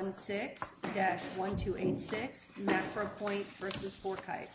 1-6-1286 MacroPoint v. FourKites.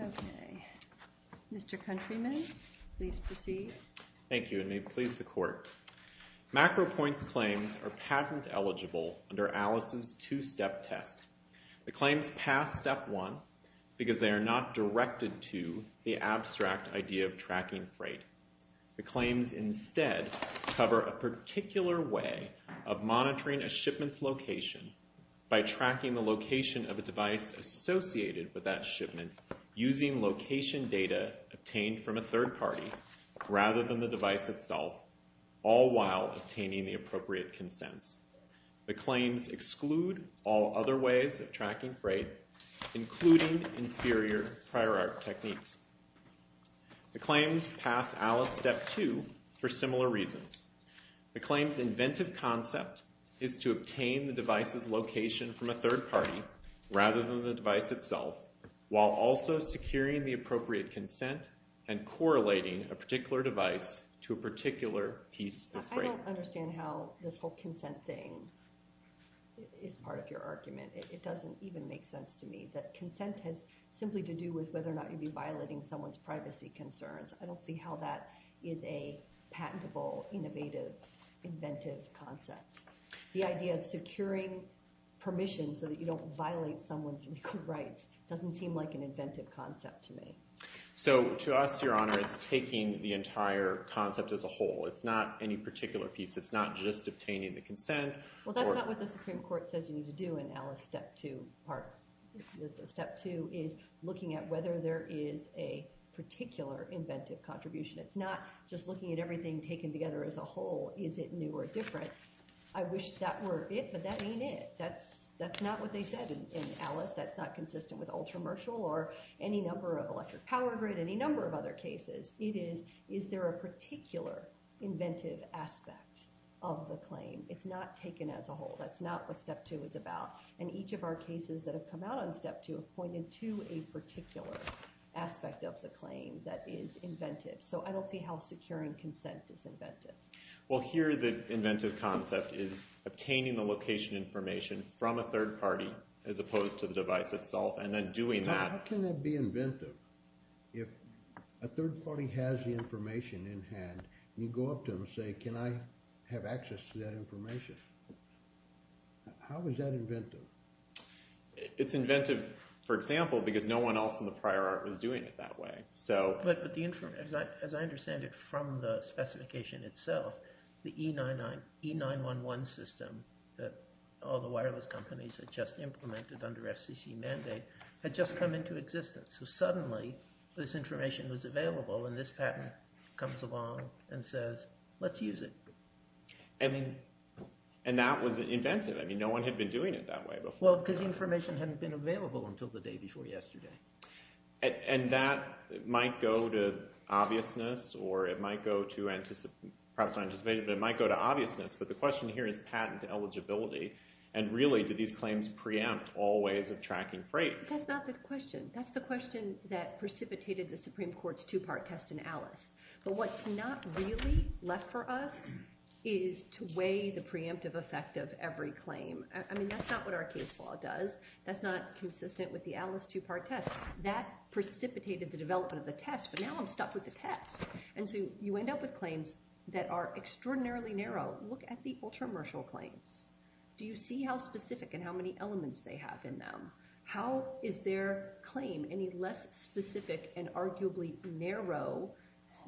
Okay, Mr. Countryman, please proceed. Thank you, and may it please the Court. MacroPoint's claims are patent eligible under Alice's two-step test. The claims pass step one because they are not directed to the abstract idea of tracking freight. The claims instead cover a particular way of monitoring a shipment's location by tracking the location of a device associated with that shipment using location data obtained from a third party rather than the device itself, all while obtaining the appropriate consents. The claims exclude all other ways of tracking freight, including inferior prior art techniques. The claims pass Alice step two for similar reasons. The claims' inventive concept is to obtain the device's location from a third party rather than the device itself, while also securing the appropriate consent and correlating a particular device to a particular piece of freight. I don't understand how this whole consent thing is part of your argument. It doesn't even make sense to me that consent has simply to do with whether or not you'd be violating someone's privacy concerns. I don't see how that is a patentable, innovative, inventive concept. The idea of securing permission so that you don't violate someone's legal rights doesn't seem like an inventive concept to me. So to us, Your Honor, it's taking the entire concept as a whole. It's not any particular piece. It's not just obtaining the consent. Well, that's not what the Supreme Court says you need to do in Alice step two. Step two is looking at whether there is a particular inventive contribution. It's not just looking at everything taken together as a whole. Is it new or different? I wish that were it, but that ain't it. That's not what they said in Alice. That's not consistent with Ultramershal or any number of electric power grid, any number of other cases. It is, is there a particular inventive aspect of the claim? It's not taken as a whole. That's not what step two is about. And each of our cases that have come out on step two have pointed to a particular aspect of the claim that is inventive. So I don't see how securing consent is inventive. Well, here the inventive concept is obtaining the location information from a third party as opposed to the device itself and then doing that. How can that be inventive if a third party has the information in hand and you go up to them and say, can I have access to that information? How is that inventive? It's inventive, for example, because no one else in the prior art was doing it that way. But as I understand it from the specification itself, the E911 system that all the wireless companies had just implemented under FCC mandate had just come into existence. So suddenly this information was available and this patent comes along and says, let's use it. And that was inventive. I mean, no one had been doing it that way before. Well, because the information hadn't been available until the day before yesterday. And that might go to obviousness or it might go to perhaps not anticipation, but it might go to obviousness. But the question here is patent eligibility. And really, do these claims preempt all ways of tracking freight? That's not the question. That's the question that precipitated the Supreme Court's two-part test in Alice. But what's not really left for us is to weigh the preemptive effect of every claim. I mean, that's not what our case law does. That's not consistent with the Alice two-part test. That precipitated the development of the test, but now I'm stuck with the test. And so you end up with claims that are extraordinarily narrow. Look at the ultra-martial claims. Do you see how specific and how many elements they have in them? How is their claim any less specific and arguably narrow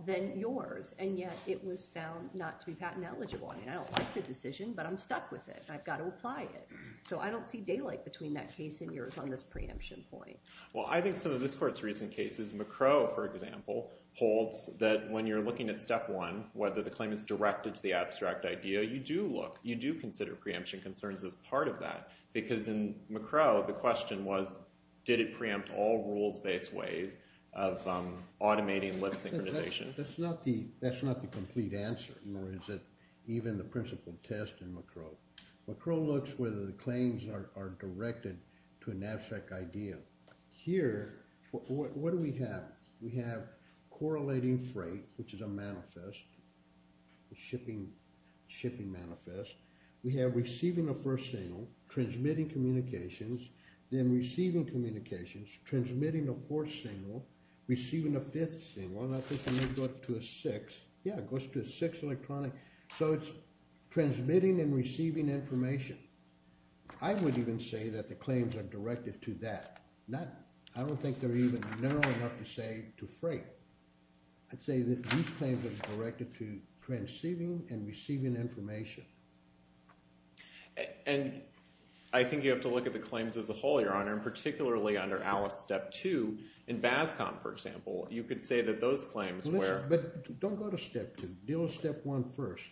than yours, and yet it was found not to be patent eligible? I mean, I don't like the decision, but I'm stuck with it and I've got to apply it. So I don't see daylight between that case and yours on this preemption point. Well, I think some of this Court's recent cases, McCrow, for example, holds that when you're looking at step one, whether the claim is directed to the abstract idea, you do look, you do consider preemption concerns as part of that. Because in McCrow, the question was, did it preempt all rules-based ways of automating lip synchronization? That's not the complete answer, nor is it even the principled test in McCrow. McCrow looks whether the claims are directed to an abstract idea. Here, what do we have? We have correlating freight, which is a manifest, a shipping manifest. We have receiving the first signal, transmitting communications, then receiving communications, transmitting a fourth signal, receiving a fifth signal, and I think it may go up to a sixth. Yeah, it goes to a sixth electronic. So it's transmitting and receiving information. I would even say that the claims are directed to that. I don't think they're even narrow enough to say to freight. I'd say that these claims are directed to transceiving and receiving information. And I think you have to look at the claims as a whole, Your Honor, and particularly under Alice Step 2 in BASCOM, for example. You could say that those claims were— Listen, but don't go to Step 2. Deal with Step 1 first,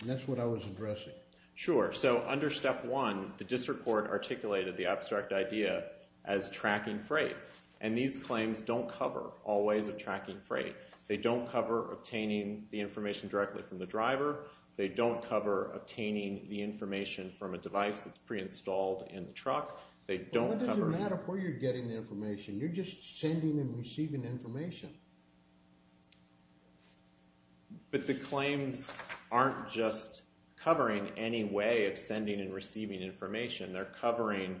and that's what I was addressing. Sure. So under Step 1, the district court articulated the abstract idea as tracking freight. And these claims don't cover all ways of tracking freight. They don't cover obtaining the information directly from the driver. They don't cover obtaining the information from a device that's pre-installed in the truck. They don't cover— Well, what does it matter where you're getting the information? You're just sending and receiving information. But the claims aren't just covering any way of sending and receiving information. They're covering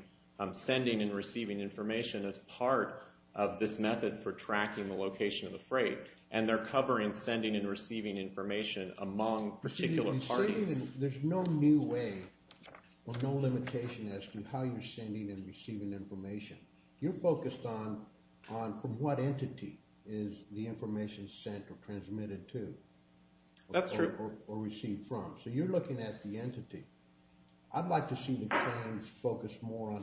sending and receiving information as part of this method for tracking the location of the freight. And they're covering sending and receiving information among particular parties. There's no new way or no limitation as to how you're sending and receiving information. You're focused on from what entity is the information sent or transmitted to or received That's true. So you're looking at the entity. I'd like to see the claims focus more on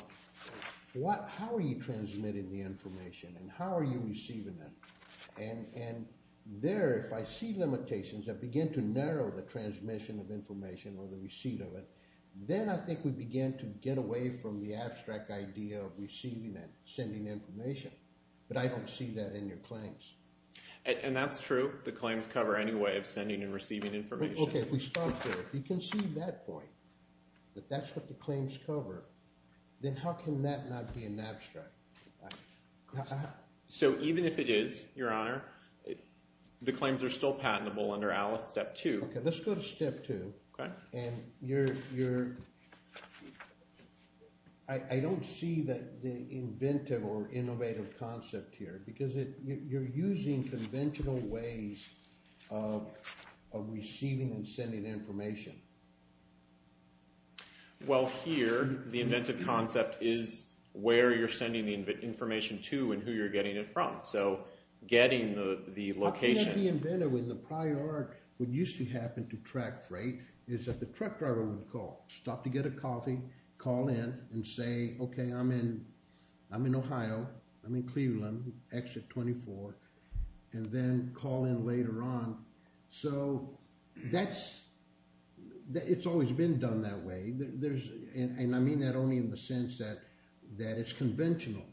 how are you transmitting the information and how are you receiving it. And there, if I see limitations that begin to narrow the transmission of information or the receipt of it, then I think we begin to get away from the abstract idea of receiving and sending information. But I don't see that in your claims. And that's true. The claims cover any way of sending and receiving information. Okay. If we stop there. If you can see that point, that that's what the claims cover, then how can that not be an abstract? So even if it is, Your Honor, the claims are still patentable under ALICE Step 2. Okay. Let's go to Step 2. Okay. And you're, I don't see that the inventive or innovative concept here because you're using conventional ways of receiving and sending information. Well here, the inventive concept is where you're sending the information to and who you're getting it from. So getting the location. What used to happen to track freight is that the truck driver would stop to get a coffee, call in and say, okay, I'm in, I'm in Ohio, I'm in Cleveland, exit 24, and then call in later on. So that's, it's always been done that way. There's, and I mean that only in the sense that, that it's conventional.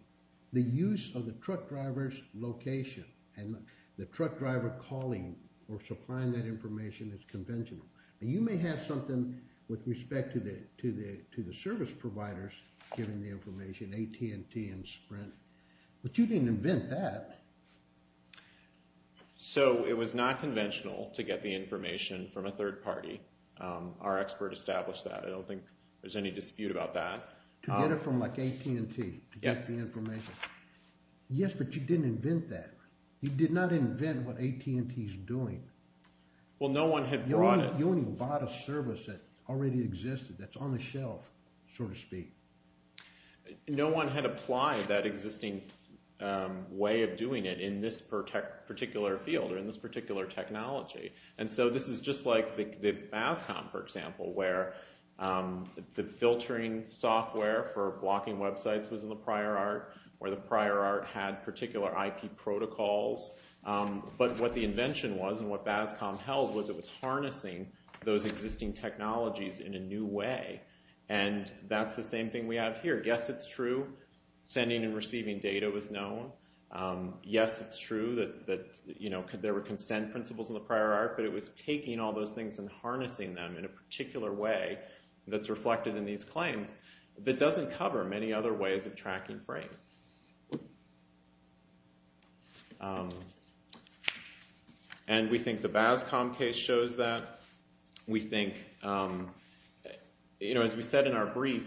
The use of the truck driver's location and the truck driver calling or supplying that information is conventional, but you may have something with respect to the, to the, to the service providers giving the information, AT&T and Sprint, but you didn't invent that. So it was not conventional to get the information from a third party. Our expert established that. I don't think there's any dispute about that. To get it from like AT&T to get the information. Yes, but you didn't invent that. You did not invent what AT&T is doing. Well no one had brought it. You only bought a service that already existed, that's on the shelf, so to speak. No one had applied that existing way of doing it in this particular field or in this particular technology. And so this is just like the, the Bascom, for example, where the filtering software for blocking websites was in the prior art, where the prior art had particular IP protocols. But what the invention was and what Bascom held was it was harnessing those existing technologies in a new way. And that's the same thing we have here. Yes, it's true. Sending and receiving data was known. Yes, it's true that, that, you know, there were consent principles in the prior art, but it was taking all those things and harnessing them in a particular way that's reflected in these claims that doesn't cover many other ways of tracking frame. And we think the Bascom case shows that. We think, you know, as we said in our brief,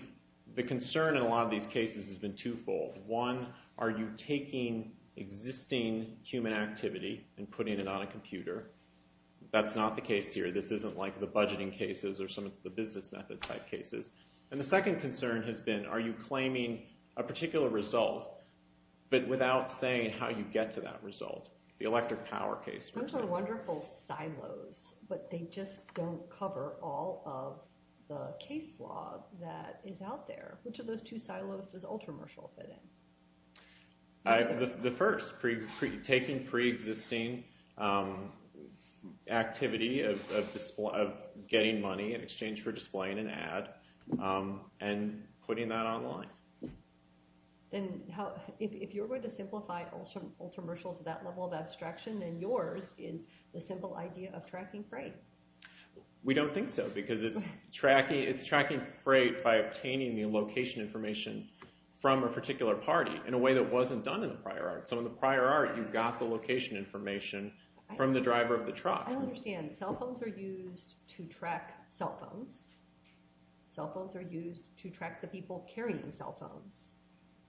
the concern in a lot of these cases has been twofold. One, are you taking existing human activity and putting it on a computer? That's not the case here. This isn't like the budgeting cases or some of the business method type cases. And the second concern has been, are you claiming a particular result, but without saying how you get to that result? The electric power case. Those are wonderful silos, but they just don't cover all of the case law that is out there. Which of those two silos does Ultramershal fit in? The first, taking pre-existing activity of getting money in exchange for displaying an ad and putting that online. Then, if you're going to simplify Ultramershal to that level of abstraction, then yours is the simple idea of tracking freight. We don't think so, because it's tracking freight by obtaining the location information from a particular party in a way that wasn't done in the prior art. So in the prior art, you got the location information from the driver of the truck. I understand. Cell phones are used to track cell phones. Cell phones are used to track the people carrying cell phones.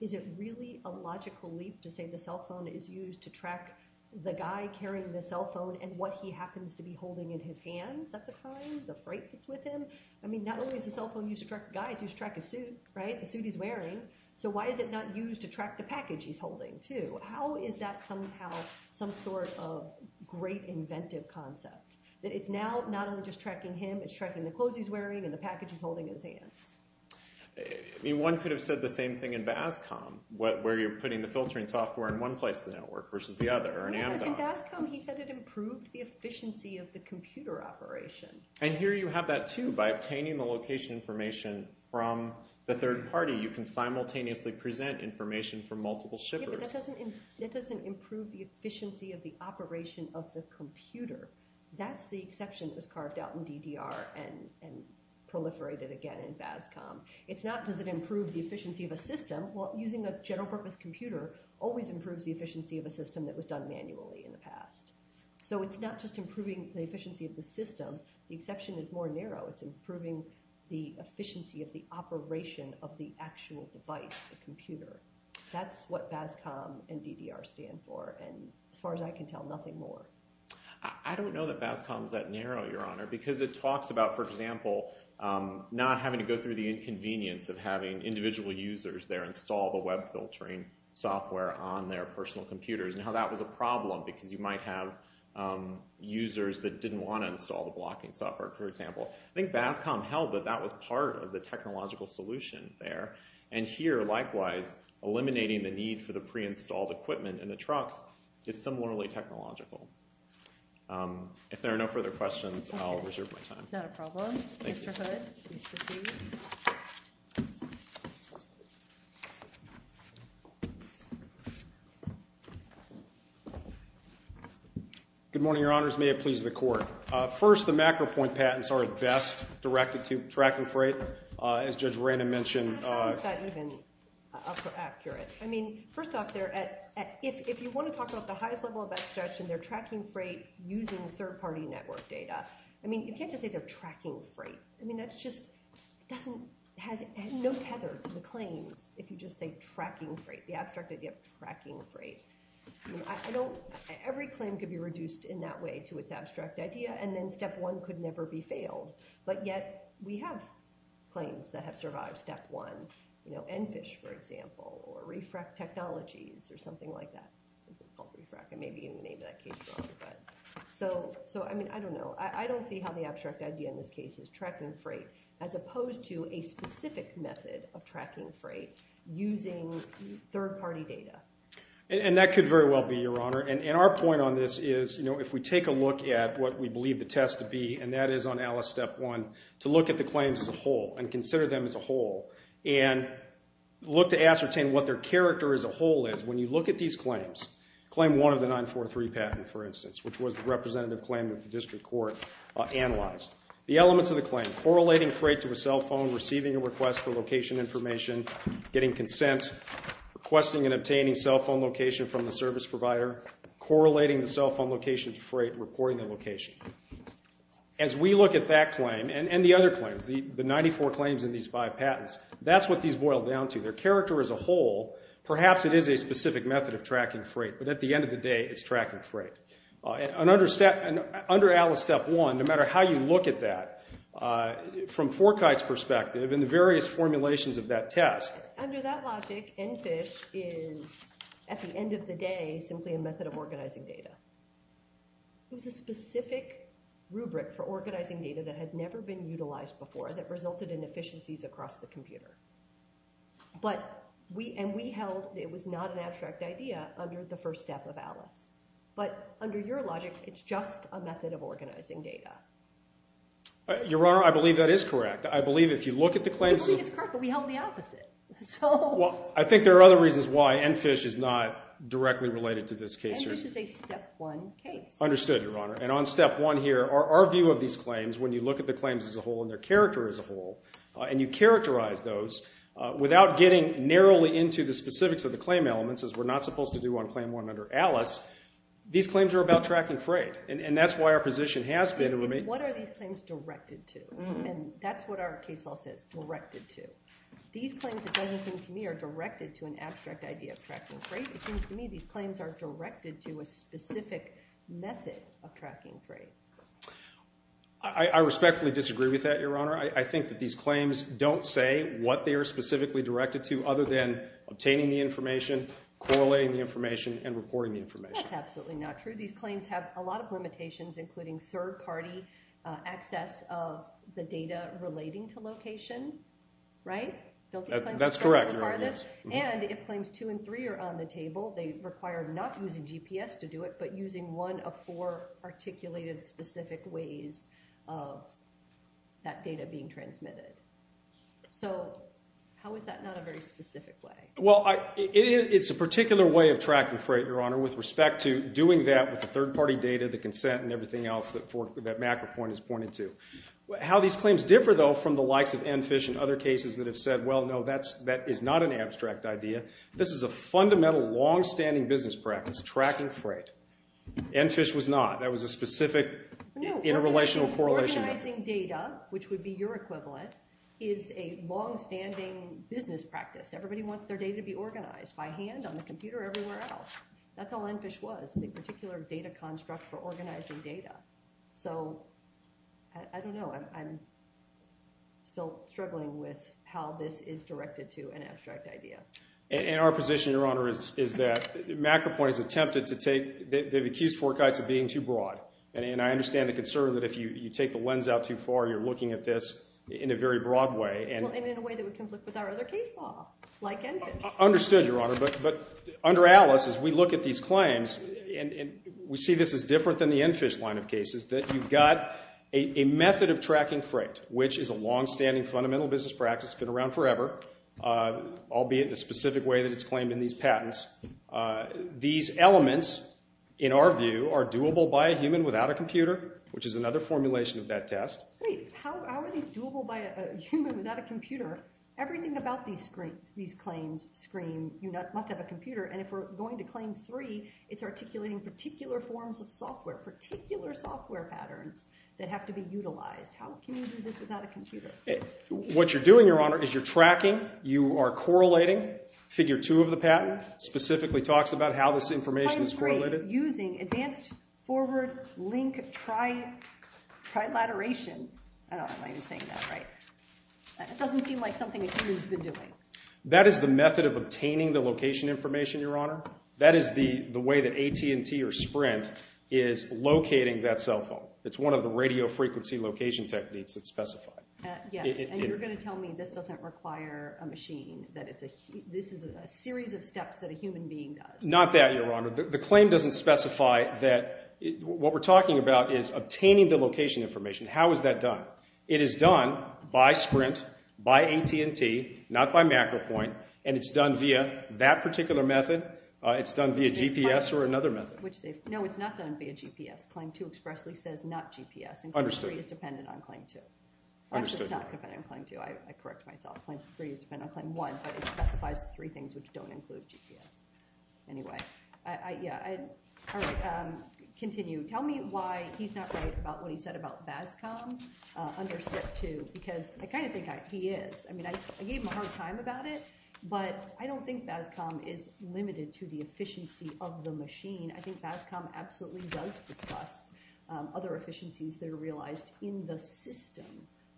Is it really a logical leap to say the cell phone is used to track the guy carrying the hands at the time, the freight that's with him? I mean, not only is the cell phone used to track the guy, it's used to track his suit, right? The suit he's wearing. So why is it not used to track the package he's holding, too? How is that somehow some sort of great inventive concept, that it's now not only just tracking him, it's tracking the clothes he's wearing and the package he's holding in his hands? One could have said the same thing in Bascom, where you're putting the filtering software in one place in the network versus the other, or in Amdocs. In Bascom, he said it improved the efficiency of the computer operation. And here you have that, too. By obtaining the location information from the third party, you can simultaneously present information from multiple shippers. Yeah, but that doesn't improve the efficiency of the operation of the computer. That's the exception that was carved out in DDR and proliferated again in Bascom. It's not, does it improve the efficiency of a system? Well, using a general purpose computer always improves the efficiency of a system that was done manually in the past. So it's not just improving the efficiency of the system, the exception is more narrow. It's improving the efficiency of the operation of the actual device, the computer. That's what Bascom and DDR stand for, and as far as I can tell, nothing more. I don't know that Bascom's that narrow, Your Honor, because it talks about, for example, not having to go through the inconvenience of having individual users there install the problem, because you might have users that didn't want to install the blocking software, for example. I think Bascom held that that was part of the technological solution there. And here, likewise, eliminating the need for the pre-installed equipment in the trucks is similarly technological. If there are no further questions, I'll reserve my time. Not a problem. Thank you. Mr. Hood, please proceed. Good morning, Your Honors. May it please the Court. First, the macro-point patents are best directed to tracking freight, as Judge Ranum mentioned. How is that even accurate? I mean, first off, if you want to talk about the highest level of abstraction, they're tracking freight using third-party network data. I mean, you can't just say they're tracking freight. I mean, that just has no tether to the claims if you just say tracking freight, the abstract idea of tracking freight. Every claim could be reduced in that way to its abstract idea, and then step one could never be failed. But yet, we have claims that have survived step one. You know, Enfish, for example, or Refrac Technologies, or something like that. It's called Refrac. It may be in the name of that case. So, I mean, I don't know. I don't see how the abstract idea in this case is tracking freight, as opposed to a specific method of tracking freight using third-party data. And that could very well be, Your Honor. And our point on this is, you know, if we take a look at what we believe the test to be, and that is on ALICE Step 1, to look at the claims as a whole, and consider them as a whole, and look to ascertain what their character as a whole is, when you look at these claims, claim one of the 943 patent, for instance, which was the representative claim that the district court analyzed. The elements of the claim, correlating freight to a cell phone, receiving a request for a cell phone location from the service provider, correlating the cell phone location to freight, reporting the location. As we look at that claim, and the other claims, the 94 claims in these five patents, that's what these boil down to. Their character as a whole, perhaps it is a specific method of tracking freight, but at the end of the day, it's tracking freight. And under ALICE Step 1, no matter how you look at that, from Forkite's perspective, and the various formulations of that test. Under that logic, NFISH is, at the end of the day, simply a method of organizing data. It was a specific rubric for organizing data that had never been utilized before, that resulted in efficiencies across the computer. But, and we held that it was not an abstract idea under the first step of ALICE. But under your logic, it's just a method of organizing data. Your Honor, I believe that is correct. I believe if you look at the claims... I believe it's correct, but we held the opposite. So... Well, I think there are other reasons why NFISH is not directly related to this case. NFISH is a Step 1 case. Understood, Your Honor. And on Step 1 here, our view of these claims, when you look at the claims as a whole, and their character as a whole, and you characterize those, without getting narrowly into the specifics of the claim elements, as we're not supposed to do on Claim 1 under ALICE, these claims are about tracking freight. And that's why our position has been... What are these claims directed to? And that's what our case law says, directed to. These claims, it doesn't seem to me, are directed to an abstract idea of tracking freight. It seems to me these claims are directed to a specific method of tracking freight. I respectfully disagree with that, Your Honor. I think that these claims don't say what they are specifically directed to, other than obtaining the information, correlating the information, and reporting the information. That's absolutely not true. These claims have a lot of limitations, including third-party access of the data relating to location, right? That's correct, Your Honor, yes. And if Claims 2 and 3 are on the table, they require not using GPS to do it, but using one of four articulated, specific ways of that data being transmitted. So, how is that not a very specific way? Well, it's a particular way of tracking freight, Your Honor, with respect to doing that with the third-party data, the consent, and everything else that MacroPoint has pointed to. How these claims differ, though, from the likes of NFISH and other cases that have said, well, no, that is not an abstract idea. This is a fundamental, long-standing business practice, tracking freight. NFISH was not. That was a specific interrelational correlation. Organizing data, which would be your equivalent, is a long-standing business practice. Everybody wants their data to be organized by hand, on the computer, or everywhere else. That's how NFISH was. It's a particular data construct for organizing data. So, I don't know. I'm still struggling with how this is directed to an abstract idea. And our position, Your Honor, is that MacroPoint has attempted to take, they've accused Forkytes of being too broad. And I understand the concern that if you take the lens out too far, you're looking at this in a very broad way. And in a way that would conflict with our other case law, like NFISH. Understood, Your Honor. But under Alice, as we look at these claims, and we see this as different than the NFISH line of cases, that you've got a method of tracking freight, which is a long-standing, fundamental business practice, been around forever, albeit in a specific way that it's claimed in these patents. These elements, in our view, are doable by a human without a computer, which is another formulation of that test. Great. How are these doable by a human without a computer? Everything about these claims scream, you must have a computer. And if we're going to Claim 3, it's articulating particular forms of software, particular software patterns that have to be utilized. How can you do this without a computer? What you're doing, Your Honor, is you're tracking. You are correlating. Figure 2 of the patent specifically talks about how this information is correlated. Using advanced forward link trilateration. I don't know if I'm saying that right. It doesn't seem like something a human's been doing. That is the method of obtaining the location information, Your Honor. That is the way that AT&T or Sprint is locating that cell phone. It's one of the radio frequency location techniques that's specified. Yes, and you're going to tell me this doesn't require a machine, that this is a series of steps that a human being does. Not that, Your Honor. The claim doesn't specify that. What we're talking about is obtaining the location information. How is that done? It is done by Sprint, by AT&T, not by MacroPoint, and it's done via that particular method. It's done via GPS or another method. No, it's not done via GPS. Claim 2 expressly says not GPS, and Claim 3 is dependent on Claim 2. Actually, it's not dependent on Claim 2. I correct myself. Claim 3 is dependent on Claim 1, but it specifies three things which don't include GPS. Anyway, yeah, all right, continue. Tell me why he's not right about what he said about BASCOM under Step 2 because I kind of think he is. I mean, I gave him a hard time about it, but I don't think BASCOM is limited to the efficiency of the machine. I think BASCOM absolutely does discuss other efficiencies that are realized in the system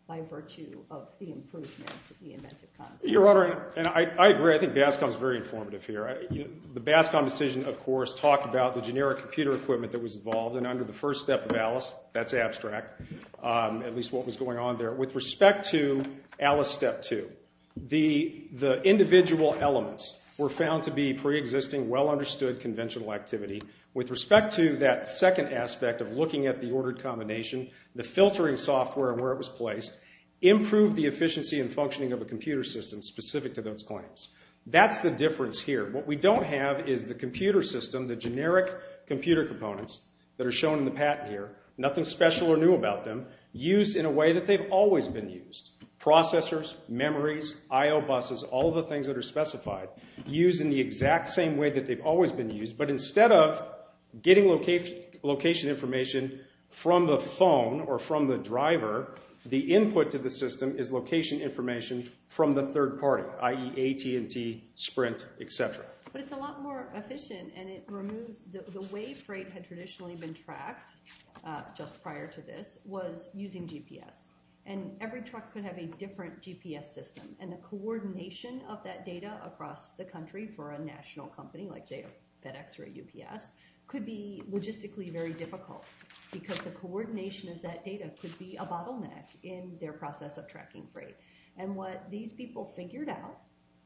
by virtue of the improvement to the inventive concept. Your Honor, and I agree. I think BASCOM is very informative here. The BASCOM decision, of course, talked about the generic computer equipment that was involved, and under the first step of ALICE, that's abstract, at least what was going on there. With respect to ALICE Step 2, the individual elements were found to be preexisting, well-understood conventional activity. With respect to that second aspect of looking at the ordered combination, the filtering software and where it was placed, improved the efficiency and functioning of a computer system specific to those claims. That's the difference here. What we don't have is the computer system, the generic computer components that are shown in the patent here, nothing special or new about them, used in a way that they've always been used. Processors, memories, I.O. buses, all the things that are specified, used in the exact same way that they've always been used, but instead of getting location information from the phone or from the driver, the input to the system is location information from the third party, i.e. AT&T, Sprint, et cetera. But it's a lot more efficient, and it removes... The way freight had traditionally been tracked, just prior to this, was using GPS, and every truck could have a different GPS system, and the coordination of that data across the country for a national company like FedEx or UPS could be logistically very difficult because the coordination of that data could be a bottleneck in their process of tracking freight. And what these people figured out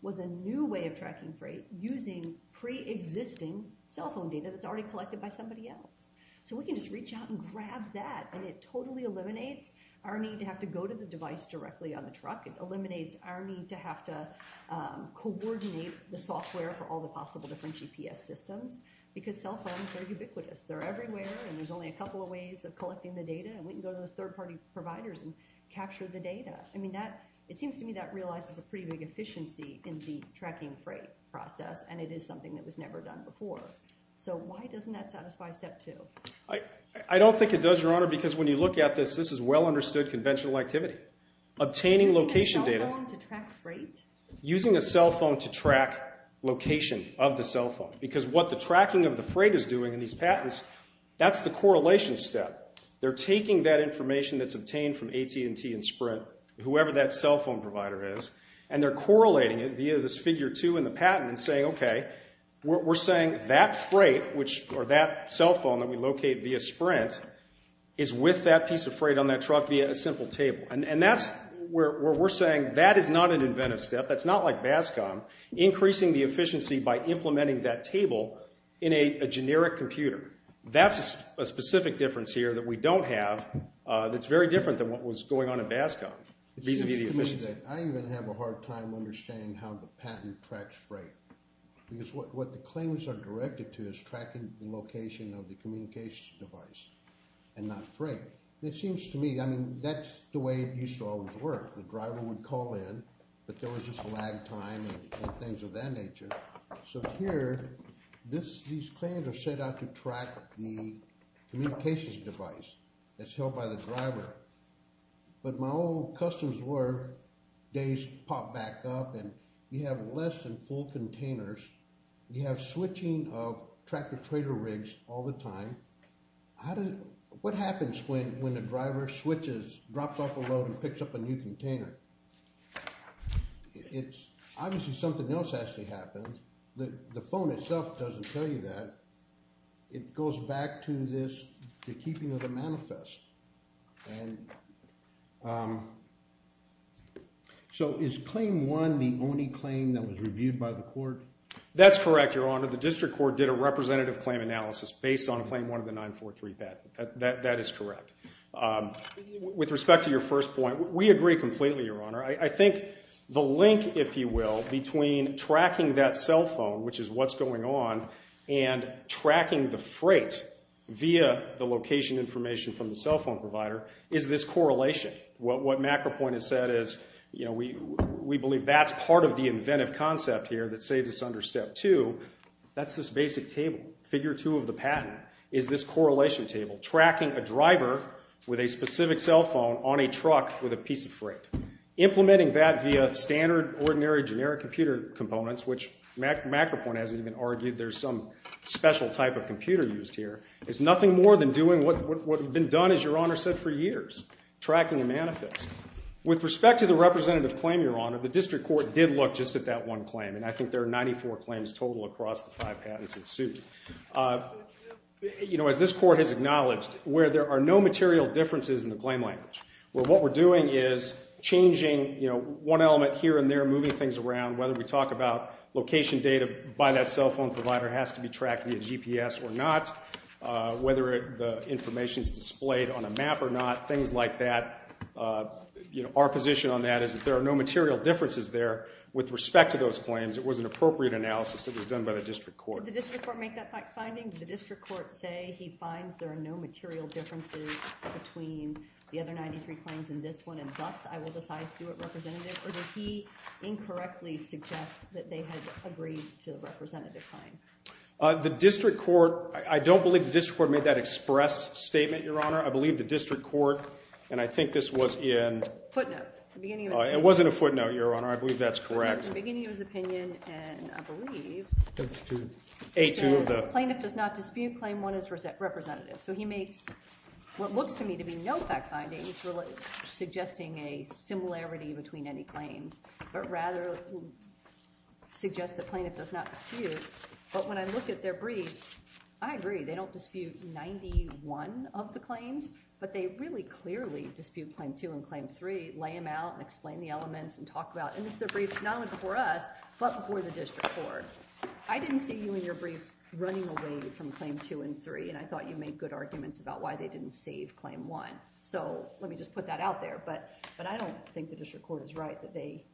was a new way of tracking freight using pre-existing cell phone data that's already collected by somebody else. So we can just reach out and grab that, and it totally eliminates our need to have to go to the device directly on the truck. It eliminates our need to have to coordinate the software for all the possible different GPS systems because cell phones are ubiquitous. They're everywhere, and there's only a couple of ways of collecting the data, and we can go to those third-party providers and capture the data. I mean, it seems to me that realizes a pretty big efficiency in the tracking freight process, and it is something that was never done before. So why doesn't that satisfy Step 2? I don't think it does, Your Honor, because when you look at this, this is well-understood conventional activity. Obtaining location data... Using a cell phone to track freight? Using a cell phone to track location of the cell phone because what the tracking of the freight is doing in these patents, that's the correlation step. They're taking that information that's obtained from AT&T and Sprint, whoever that cell phone provider is, and they're correlating it via this Figure 2 in the patent and saying, okay, we're saying that freight, or that cell phone that we locate via Sprint, is with that piece of freight on that truck via a simple table. And that's where we're saying that is not an inventive step. That's not like BASCOM. Increasing the efficiency by implementing that table in a generic computer. That's a specific difference here that we don't have that's very different than what was going on in BASCOM vis-a-vis the efficiency. It seems to me that I even have a hard time understanding how the patent tracks freight because what the claims are directed to is tracking the location of the communications device and not freight. It seems to me, I mean, that's the way it used to always work. The driver would call in, but there was just lag time and things of that nature. So here, these claims are set out to track the communications device that's held by the driver. But my old customs days pop back up and you have less than full containers. You have switching of tractor-trader rigs all the time. What happens when the driver switches, drops off a load and picks up a new container? Obviously, something else actually happens. The phone itself doesn't tell you that. It goes back to this, the keeping of the manifest. So is Claim 1 the only claim that was reviewed by the court? That's correct, Your Honor. The district court did a representative claim analysis based on Claim 1 of the 943 patent. That is correct. With respect to your first point, we agree completely, Your Honor. I think the link, if you will, between tracking that cell phone, which is what's going on, and tracking the freight via the location information from the cell phone provider is this correlation. What MacroPoint has said is, we believe that's part of the inventive concept here that saves us under Step 2. That's this basic table. Figure 2 of the patent is this correlation table. Tracking a driver with a specific cell phone on a truck with a piece of freight. Implementing that via standard, ordinary, generic computer components, which MacroPoint hasn't even argued there's some special type of computer used here, is nothing more than doing what has been done, as Your Honor said, for years. Tracking a manifest. With respect to the representative claim, Your Honor, the district court did look just at that one claim, and I think there are 94 claims total across the five patents that suit. As this court has acknowledged, where there are no material differences in the claim language, where what we're doing is changing, you know, one element here and there, moving things around, whether we talk about location data by that cell phone provider has to be tracked via GPS or not, whether the information is displayed on a map or not, things like that. You know, our position on that is that there are no material differences there. With respect to those claims, it was an appropriate analysis that was done by the district court. Did the district court make that finding? Did the district court say he finds there are no material differences between the other 93 claims and this one, and thus I will decide to do it representative, or did he incorrectly suggest that they had agreed to the representative claim? The district court, I don't believe the district court made that expressed statement, Your Honor. I believe the district court, and I think this was in... Footnote. It wasn't a footnote, Your Honor. I believe that's correct. It was in the beginning of his opinion, and I believe... A2. A2 of the... Plaintiff does not dispute claim 1 as representative. So he makes what looks to me to be no fact findings suggesting a similarity between any claims, but rather suggests that plaintiff does not dispute. But when I look at their briefs, I agree, they don't dispute 91 of the claims, but they really clearly dispute claim 2 and claim 3, lay them out and explain the elements and talk about... And this is a brief not only before us, but before the district court. I didn't see you in your brief running away from claim 2 and 3, and I thought you made good arguments about why they didn't save claim 1. So let me just put that out there. But I don't think the district court is right that they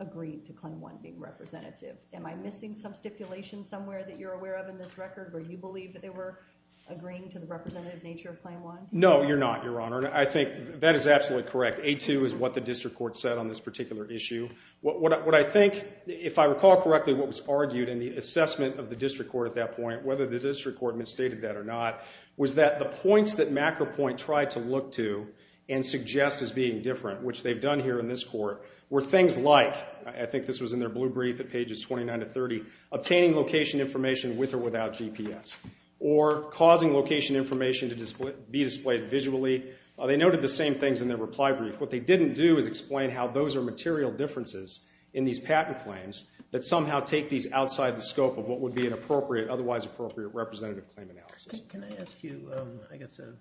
agreed to claim 1 being representative. Am I missing some stipulation somewhere that you're aware of in this record where you believe that they were agreeing to the representative nature of claim 1? No, you're not, Your Honor. I think that is absolutely correct. A2 is what the district court said on this particular issue. What I think, if I recall correctly, what was argued in the assessment of the district court at that point, whether the district court misstated that or not, was that the points that MacroPoint tried to look to and suggest as being different, which they've done here in this court, were things like, I think this was in their blue brief at pages 29 to 30, obtaining location information with or without GPS, or causing location information to be displayed visually. They noted the same things in their reply brief. What they didn't do is explain how those are material differences in these patent claims that somehow take these outside the scope of what would be an appropriate, otherwise appropriate, representative claim analysis. Can I ask you, I guess, a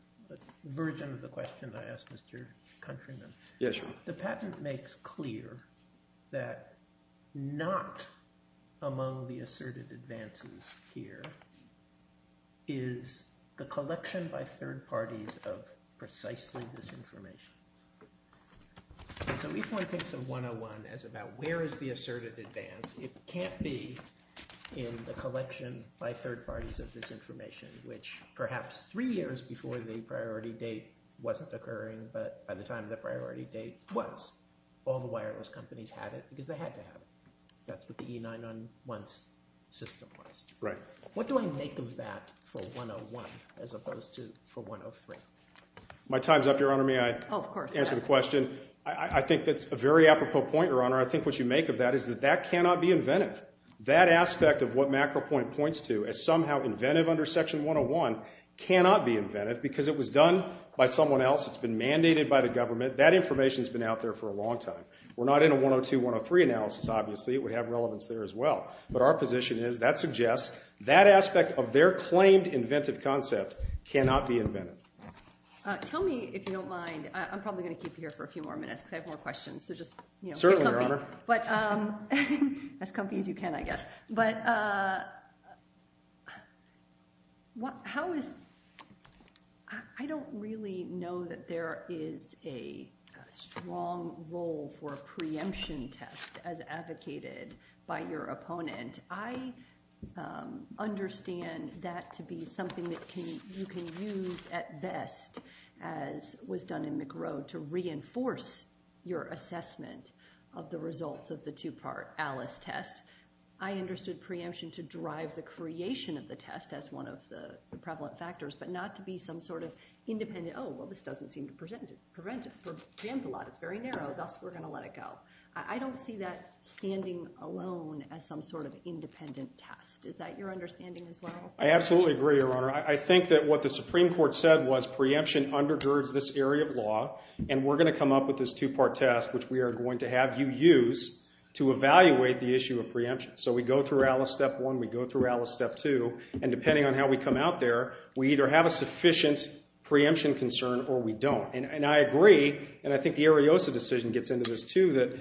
version of the question that I asked Mr. Countryman? Yes, Your Honor. The patent makes clear that not among the asserted advances here is the collection by third parties of precisely this information. So if one thinks of 101 as about where is the asserted advance, it can't be in the collection by third parties of this information, which perhaps three years before the priority date wasn't occurring, but by the time the priority date was, all the wireless companies had it because they had to have it. That's what the E901 system was. My time's up, Your Honor. May I answer the question? I think that's a very apropos point, Your Honor. I think what you make of that is that that cannot be inventive. That aspect of what Macro Point points to as somehow inventive under Section 101 cannot be inventive because it was done by someone else. It's been mandated by the government. That information's been out there for a long time. We're not in a 102-103 analysis, obviously. It would have relevance there as well. But our position is that suggests that aspect of their claimed inventive concept cannot be inventive. Tell me if you don't mind. I'm probably going to keep you here for a few more minutes because I have more questions. So just get comfy. Certainly, Your Honor. As comfy as you can, I guess. I don't really know that there is a strong role for a preemption test as advocated by your opponent. I understand that to be something that you can use at best, as was done in Macro, to reinforce your assessment of the results of the two-part Alice test. I understood preemption to drive the creation of the test as one of the prevalent factors, but not to be some sort of independent, oh, well, this doesn't seem to prevent a lot. It's very narrow. Thus, we're going to let it go. I don't see that standing alone as some sort of independent test. Is that your understanding as well? I absolutely agree, Your Honor. I think that what the Supreme Court said was preemption undergirds this area of law, and we're going to come up with this two-part test, which we are going to have you use to evaluate the issue of preemption. So we go through Alice Step 1, we go through Alice Step 2, and depending on how we come out there, we either have a sufficient preemption concern or we don't. And I agree, and I think the Ariosa decision gets into this too, that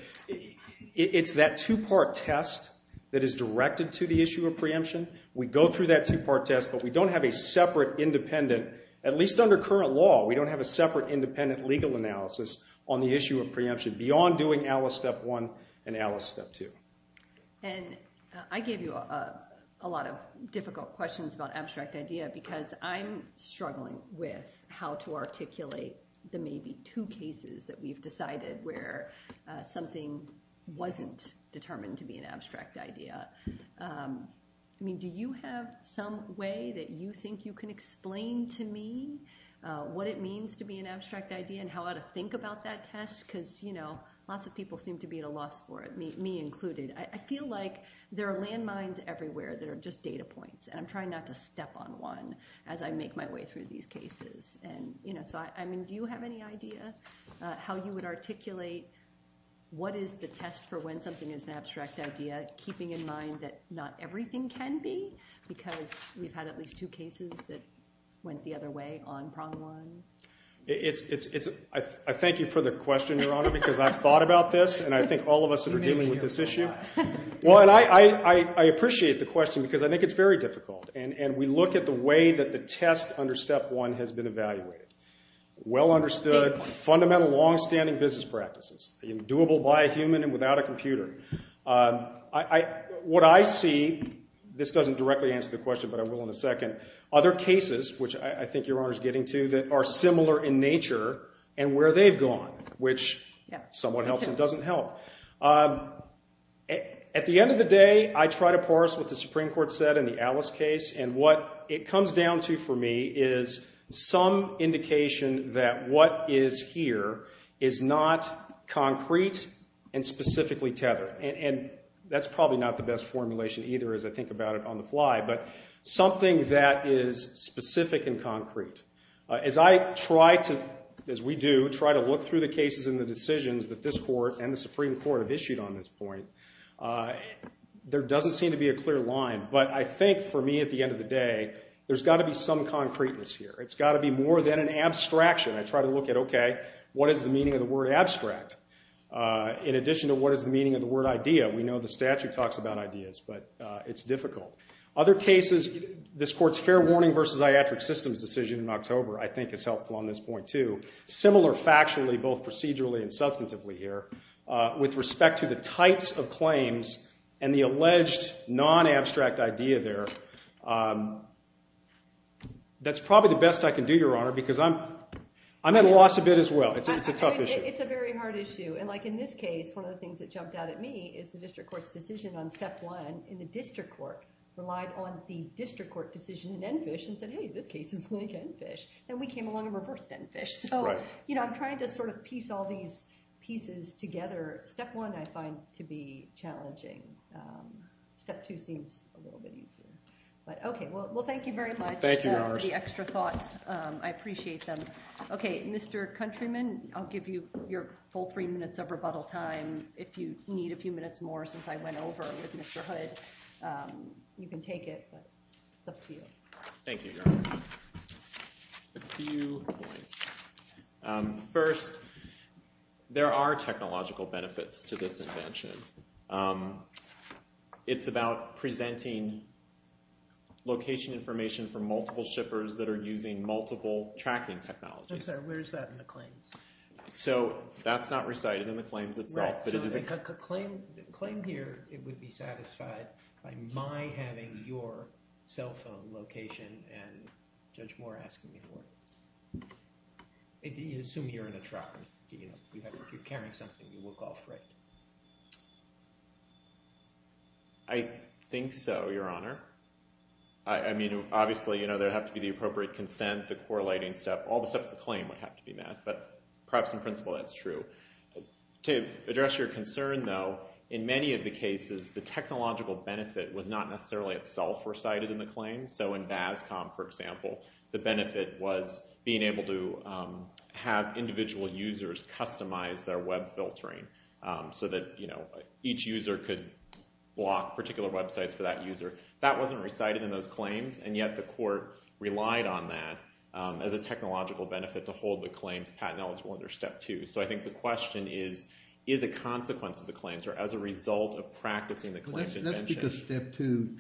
it's that two-part test that is directed to the issue of preemption. We go through that two-part test, but we don't have a separate independent, at least under current law, we don't have a separate independent legal analysis on the issue of preemption beyond doing Alice Step 1 and Alice Step 2. And I gave you a lot of difficult questions about abstract idea because I'm struggling with how to articulate the maybe two cases that we've decided where something wasn't determined to be an abstract idea. I mean, do you have some way that you think you can explain to me what it means to be an abstract idea and how to think about that test? Because lots of people seem to be at a loss for it, me included. I feel like there are landmines everywhere that are just data points, and I'm trying not to step on one as I make my way through these cases. And so I mean, do you have any idea how you would articulate what is the test for when something is an abstract idea, keeping in mind that not everything can be? Because we've had at least two cases that went the other way on Prong 1. It's... I thank you for the question, Your Honor, because I've thought about this, and I think all of us that are dealing with this issue... Well, and I appreciate the question because I think it's very difficult, and we look at the way that the test under Step 1 has been evaluated. Well-understood, fundamental long-standing business practices, doable by a human and without a computer. What I see... This doesn't directly answer the question, but I will in a second. Other cases, which I think Your Honor's getting to, that are similar in nature and where they've gone, which somewhat helps and doesn't help. At the end of the day, I try to parse what the Supreme Court said in the Alice case, and what it comes down to for me is some indication that what is here is not concrete and specifically tethered. And that's probably not the best formulation either as I think about it on the fly, but something that is specific and concrete. As I try to, as we do, try to look through the cases and the decisions that this Court and the Supreme Court have issued on this point, there doesn't seem to be a clear line. But I think, for me, at the end of the day, there's got to be some concreteness here. It's got to be more than an abstraction. I try to look at, okay, what is the meaning of the word abstract? In addition to what is the meaning of the word idea? We know the statute talks about ideas, but it's difficult. Other cases, this Court's fair warning versus iatric systems decision in October I think is helpful on this point too. Similar factually, both procedurally and substantively here, with respect to the types of claims and the alleged non-abstract idea there. That's probably the best I can do, Your Honor, because I'm at a loss a bit as well. It's a tough issue. It's a very hard issue. And like in this case, one of the things that jumped out at me is the District Court's decision on Step 1 in the District Court relied on the District Court decision in Enfish and said, hey, this case is linked to Enfish. Then we came along and reversed Enfish. I'm trying to sort of piece all these pieces together. Step 1 I find to be challenging. Step 2 seems a little bit easier. Okay, well, thank you very much for the extra thoughts. I appreciate them. Okay, Mr. Countryman, I'll give you your full 3 minutes of rebuttal time if you need a few minutes more since I went over with Mr. Hood. You can take it, but it's up to you. Thank you, Your Honor. A few points. First, there are technological benefits to this invention. It's about presenting location information for multiple shippers that are using multiple tracking technologies. Okay, where is that in the claims? So that's not recited in the claims itself. Right, so the claim here, it would be satisfied by my having your cell phone location and Judge Moore asking me to work. You assume you're in a truck. If you're carrying something, you look all freight. I think so, Your Honor. I mean, obviously, you know, there would have to be the appropriate consent, the correlating step. All the steps of the claim would have to be met, but perhaps in principle that's true. To address your concern, though, in many of the cases the technological benefit was not necessarily itself recited in the claim. So in BASCOM, for example, the benefit was being able to have individual users customize their web filtering so that each user could block particular websites for that user. That wasn't recited in those claims, and yet the court relied on that as a technological benefit to hold the claims patent-eligible under Step 2. So I think the question is, is a consequence of the claims or as a result of practicing the claims invention... That's because Step 2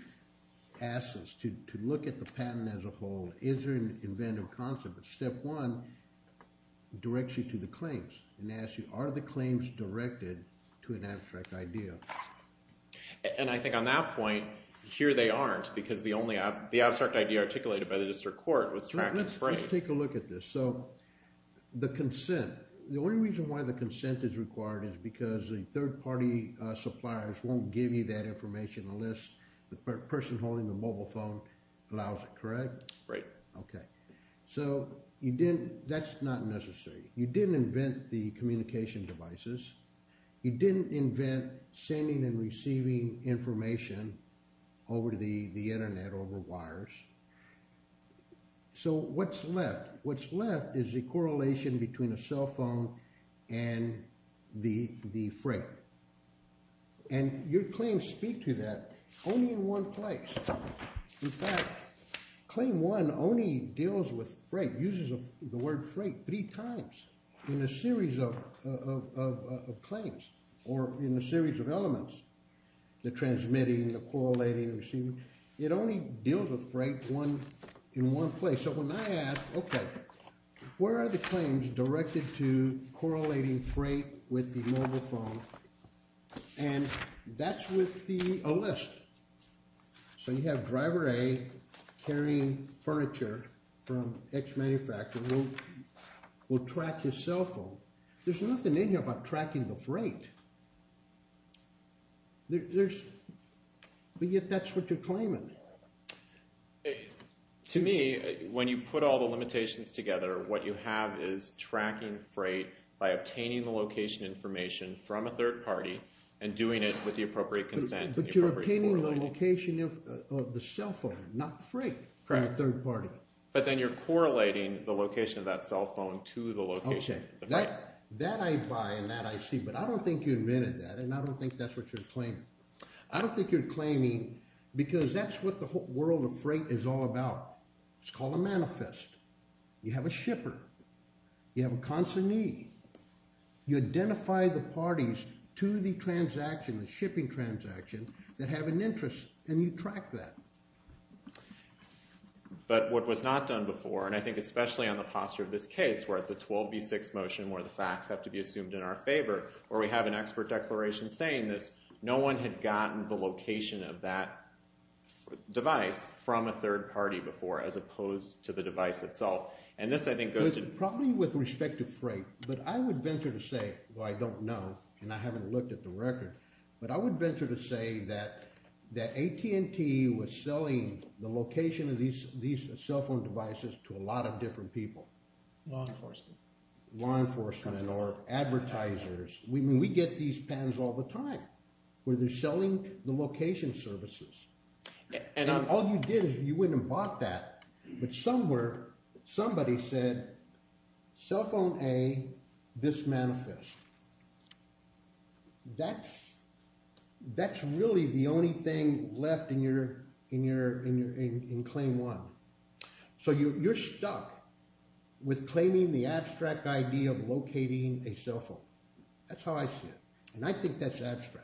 asks us to look at the patent as a whole. Is there an inventive concept? But Step 1 directs you to the claims and asks you, are the claims directed to an abstract idea? And I think on that point, here they aren't, because the abstract idea articulated by the district court was track and frame. Let's take a look at this. So the consent. The only reason why the consent is required is because the third-party suppliers won't give you that information unless the person holding the mobile phone allows it, correct? Right. Okay. So that's not necessary. You didn't invent the communication devices. You didn't invent sending and receiving information over the Internet, over wires. So what's left? What's left is a correlation between a cell phone and the freight. And your claims speak to that only in one place. In fact, Claim 1 only deals with freight, uses the word freight three times in a series of claims, or in a series of elements, the transmitting, the correlating, the receiving. It only deals with freight in one place. So when I ask, okay, where are the claims directed to correlating freight with the mobile phone? And that's with the O-List. So you have Driver A carrying furniture from X manufacturer. We'll track his cell phone. There's nothing in here about tracking the freight. But yet that's what you're claiming. To me, when you put all the limitations together, what you have is tracking freight by obtaining the location information from a third party and doing it with the appropriate consent. But you're obtaining the location of the cell phone, not freight, from a third party. But then you're correlating the location of that cell phone to the location of the freight. That I buy and that I see, but I don't think you invented that, and I don't think that's what you're claiming. I don't think you're claiming because that's what the whole world of freight is all about. It's called a manifest. You have a shipper. You have a consignee. You identify the parties to the transaction, the shipping transaction, that have an interest, and you track that. But what was not done before, and I think especially on the posture of this case, where it's a 12B6 motion where the facts have to be assumed in our favor, where we have an expert declaration saying this, no one had gotten the location of that device from a third party before as opposed to the device itself. And this, I think, goes to... Probably with respect to freight, but I would venture to say, though I don't know, and I haven't looked at the record, but I would venture to say that AT&T was selling the location of these cell phone devices to a lot of different people. Law enforcement. Law enforcement or advertisers. I mean, we get these patterns all the time where they're selling the location services. And all you did is you went and bought that, but somewhere, somebody said, cell phone A, this manifest. That's really the only thing left in claim one. So you're stuck with claiming the abstract idea of locating a cell phone. That's how I see it. And I think that's abstract.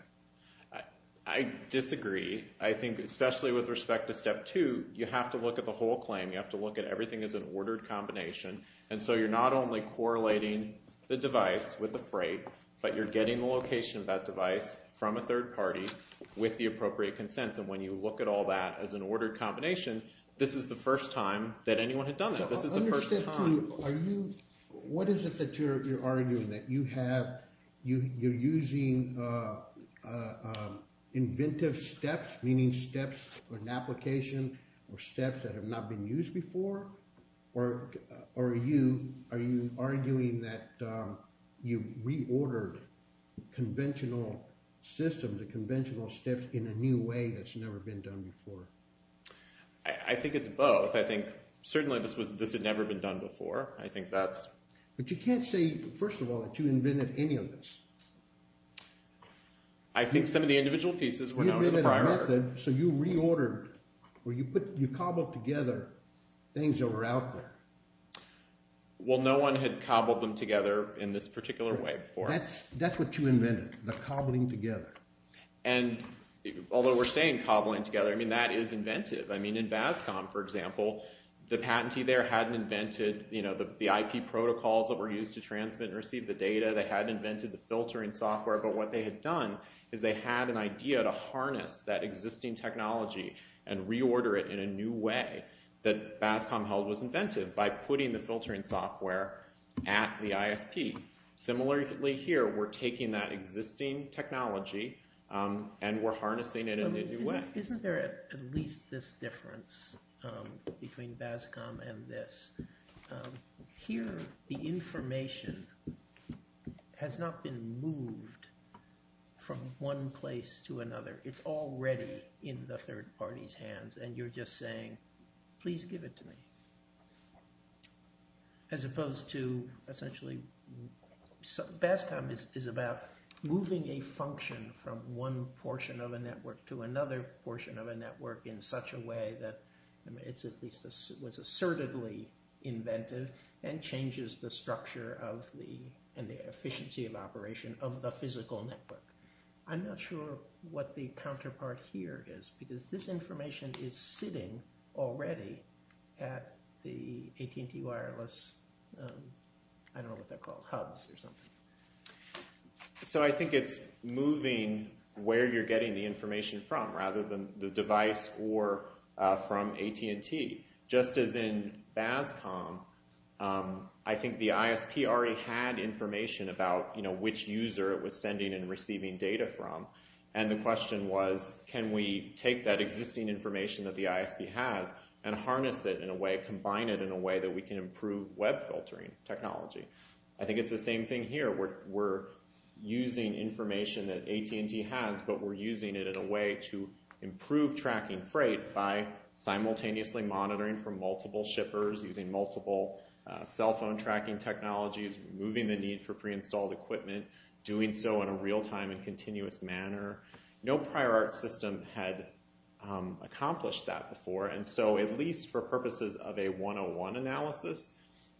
I disagree. I think, especially with respect to step two, you have to look at the whole claim. You have to look at everything as an ordered combination. And so you're not only correlating the device with the freight, but you're getting the location of that device from a third party with the appropriate consents. And when you look at all that as an ordered combination, this is the first time that anyone had done that. This is the first time. What is it that you're arguing? That you're using inventive steps, meaning steps for an application or steps that have not been used before? Or are you arguing that you reordered conventional systems or conventional steps in a new way that's never been done before? I think it's both. I think, certainly, this had never been done before. I think that's... But you can't say, first of all, that you invented any of this. I think some of the individual pieces were known in the prior... You invented a method, so you reordered, where you cobbled together things that were out there. Well, no one had cobbled them together in this particular way before. That's what you invented, the cobbling together. And although we're saying cobbling together, I mean, that is inventive. I mean, in VASCOM, for example, the patentee there hadn't invented the IP protocols that were used to transmit and receive the data. They hadn't invented the filtering software. But what they had done is they had an idea to harness that existing technology and reorder it in a new way that VASCOM held was inventive by putting the filtering software at the ISP. Similarly here, we're taking that existing technology and we're harnessing it in a new way. Isn't there at least this difference between VASCOM and this? Here, the information has not been moved from one place to another. It's already in the third party's hands and you're just saying, please give it to me. As opposed to essentially, VASCOM is about moving a function from one portion of a network to another portion of a network in such a way that it was assertively inventive and changes the structure and the efficiency of operation of the physical network. I'm not sure what the counterpart here is because this information is sitting already at the AT&T wireless, I don't know what they're called, hubs or something. I think it's moving where you're getting the information from rather than the device or from AT&T. Just as in VASCOM, I think the ISP already had information about which user it was sending and receiving data from, and the question was, can we take that existing information that the ISP has and harness it in a way, combine it in a way that we can improve web filtering technology? I think it's the same thing here. We're using information that AT&T has, but we're using it in a way to improve tracking freight by simultaneously monitoring from multiple shippers, using multiple cell phone tracking technologies, moving the need for pre-installed equipment, doing so in a real-time and continuous manner. No prior art system had accomplished that before, and so at least for purposes of a 101 analysis,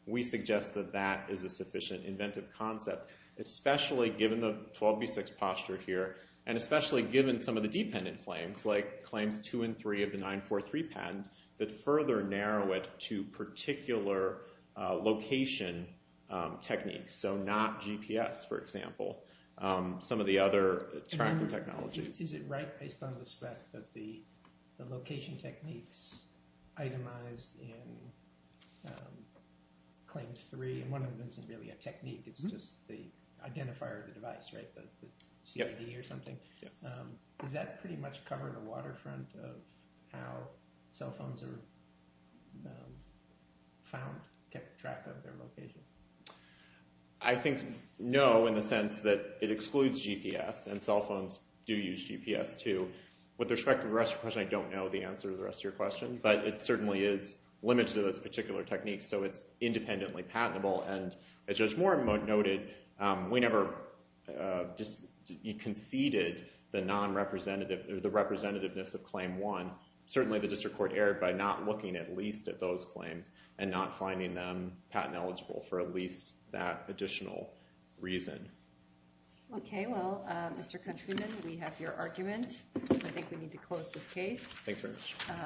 we suggest that that is a sufficient inventive concept, especially given the 12b6 posture here and especially given some of the dependent claims, like claims 2 and 3 of the 943 patent, that further narrow it to particular location categories and techniques, so not GPS, for example, some of the other tracking technologies. Is it right, based on the spec, that the location techniques itemized in claims 3, and one of them isn't really a technique, it's just the identifier of the device, right, the CID or something? Yes. Does that pretty much cover the waterfront of how cell phones are found, kept track of their location? I think no, in the sense that it excludes GPS, and cell phones do use GPS, too. With respect to the rest of your question, I don't know the answer to the rest of your question, but it certainly is limited to those particular techniques, so it's independently patentable, and as Judge Moore noted, we never conceded the representativeness of claim 1. Certainly the district court erred by not looking at least at those claims, and not finding them patent eligible for at least that additional reason. Okay, well, Mr. Countryman, we have your argument. I think we need to close this case. Thanks very much.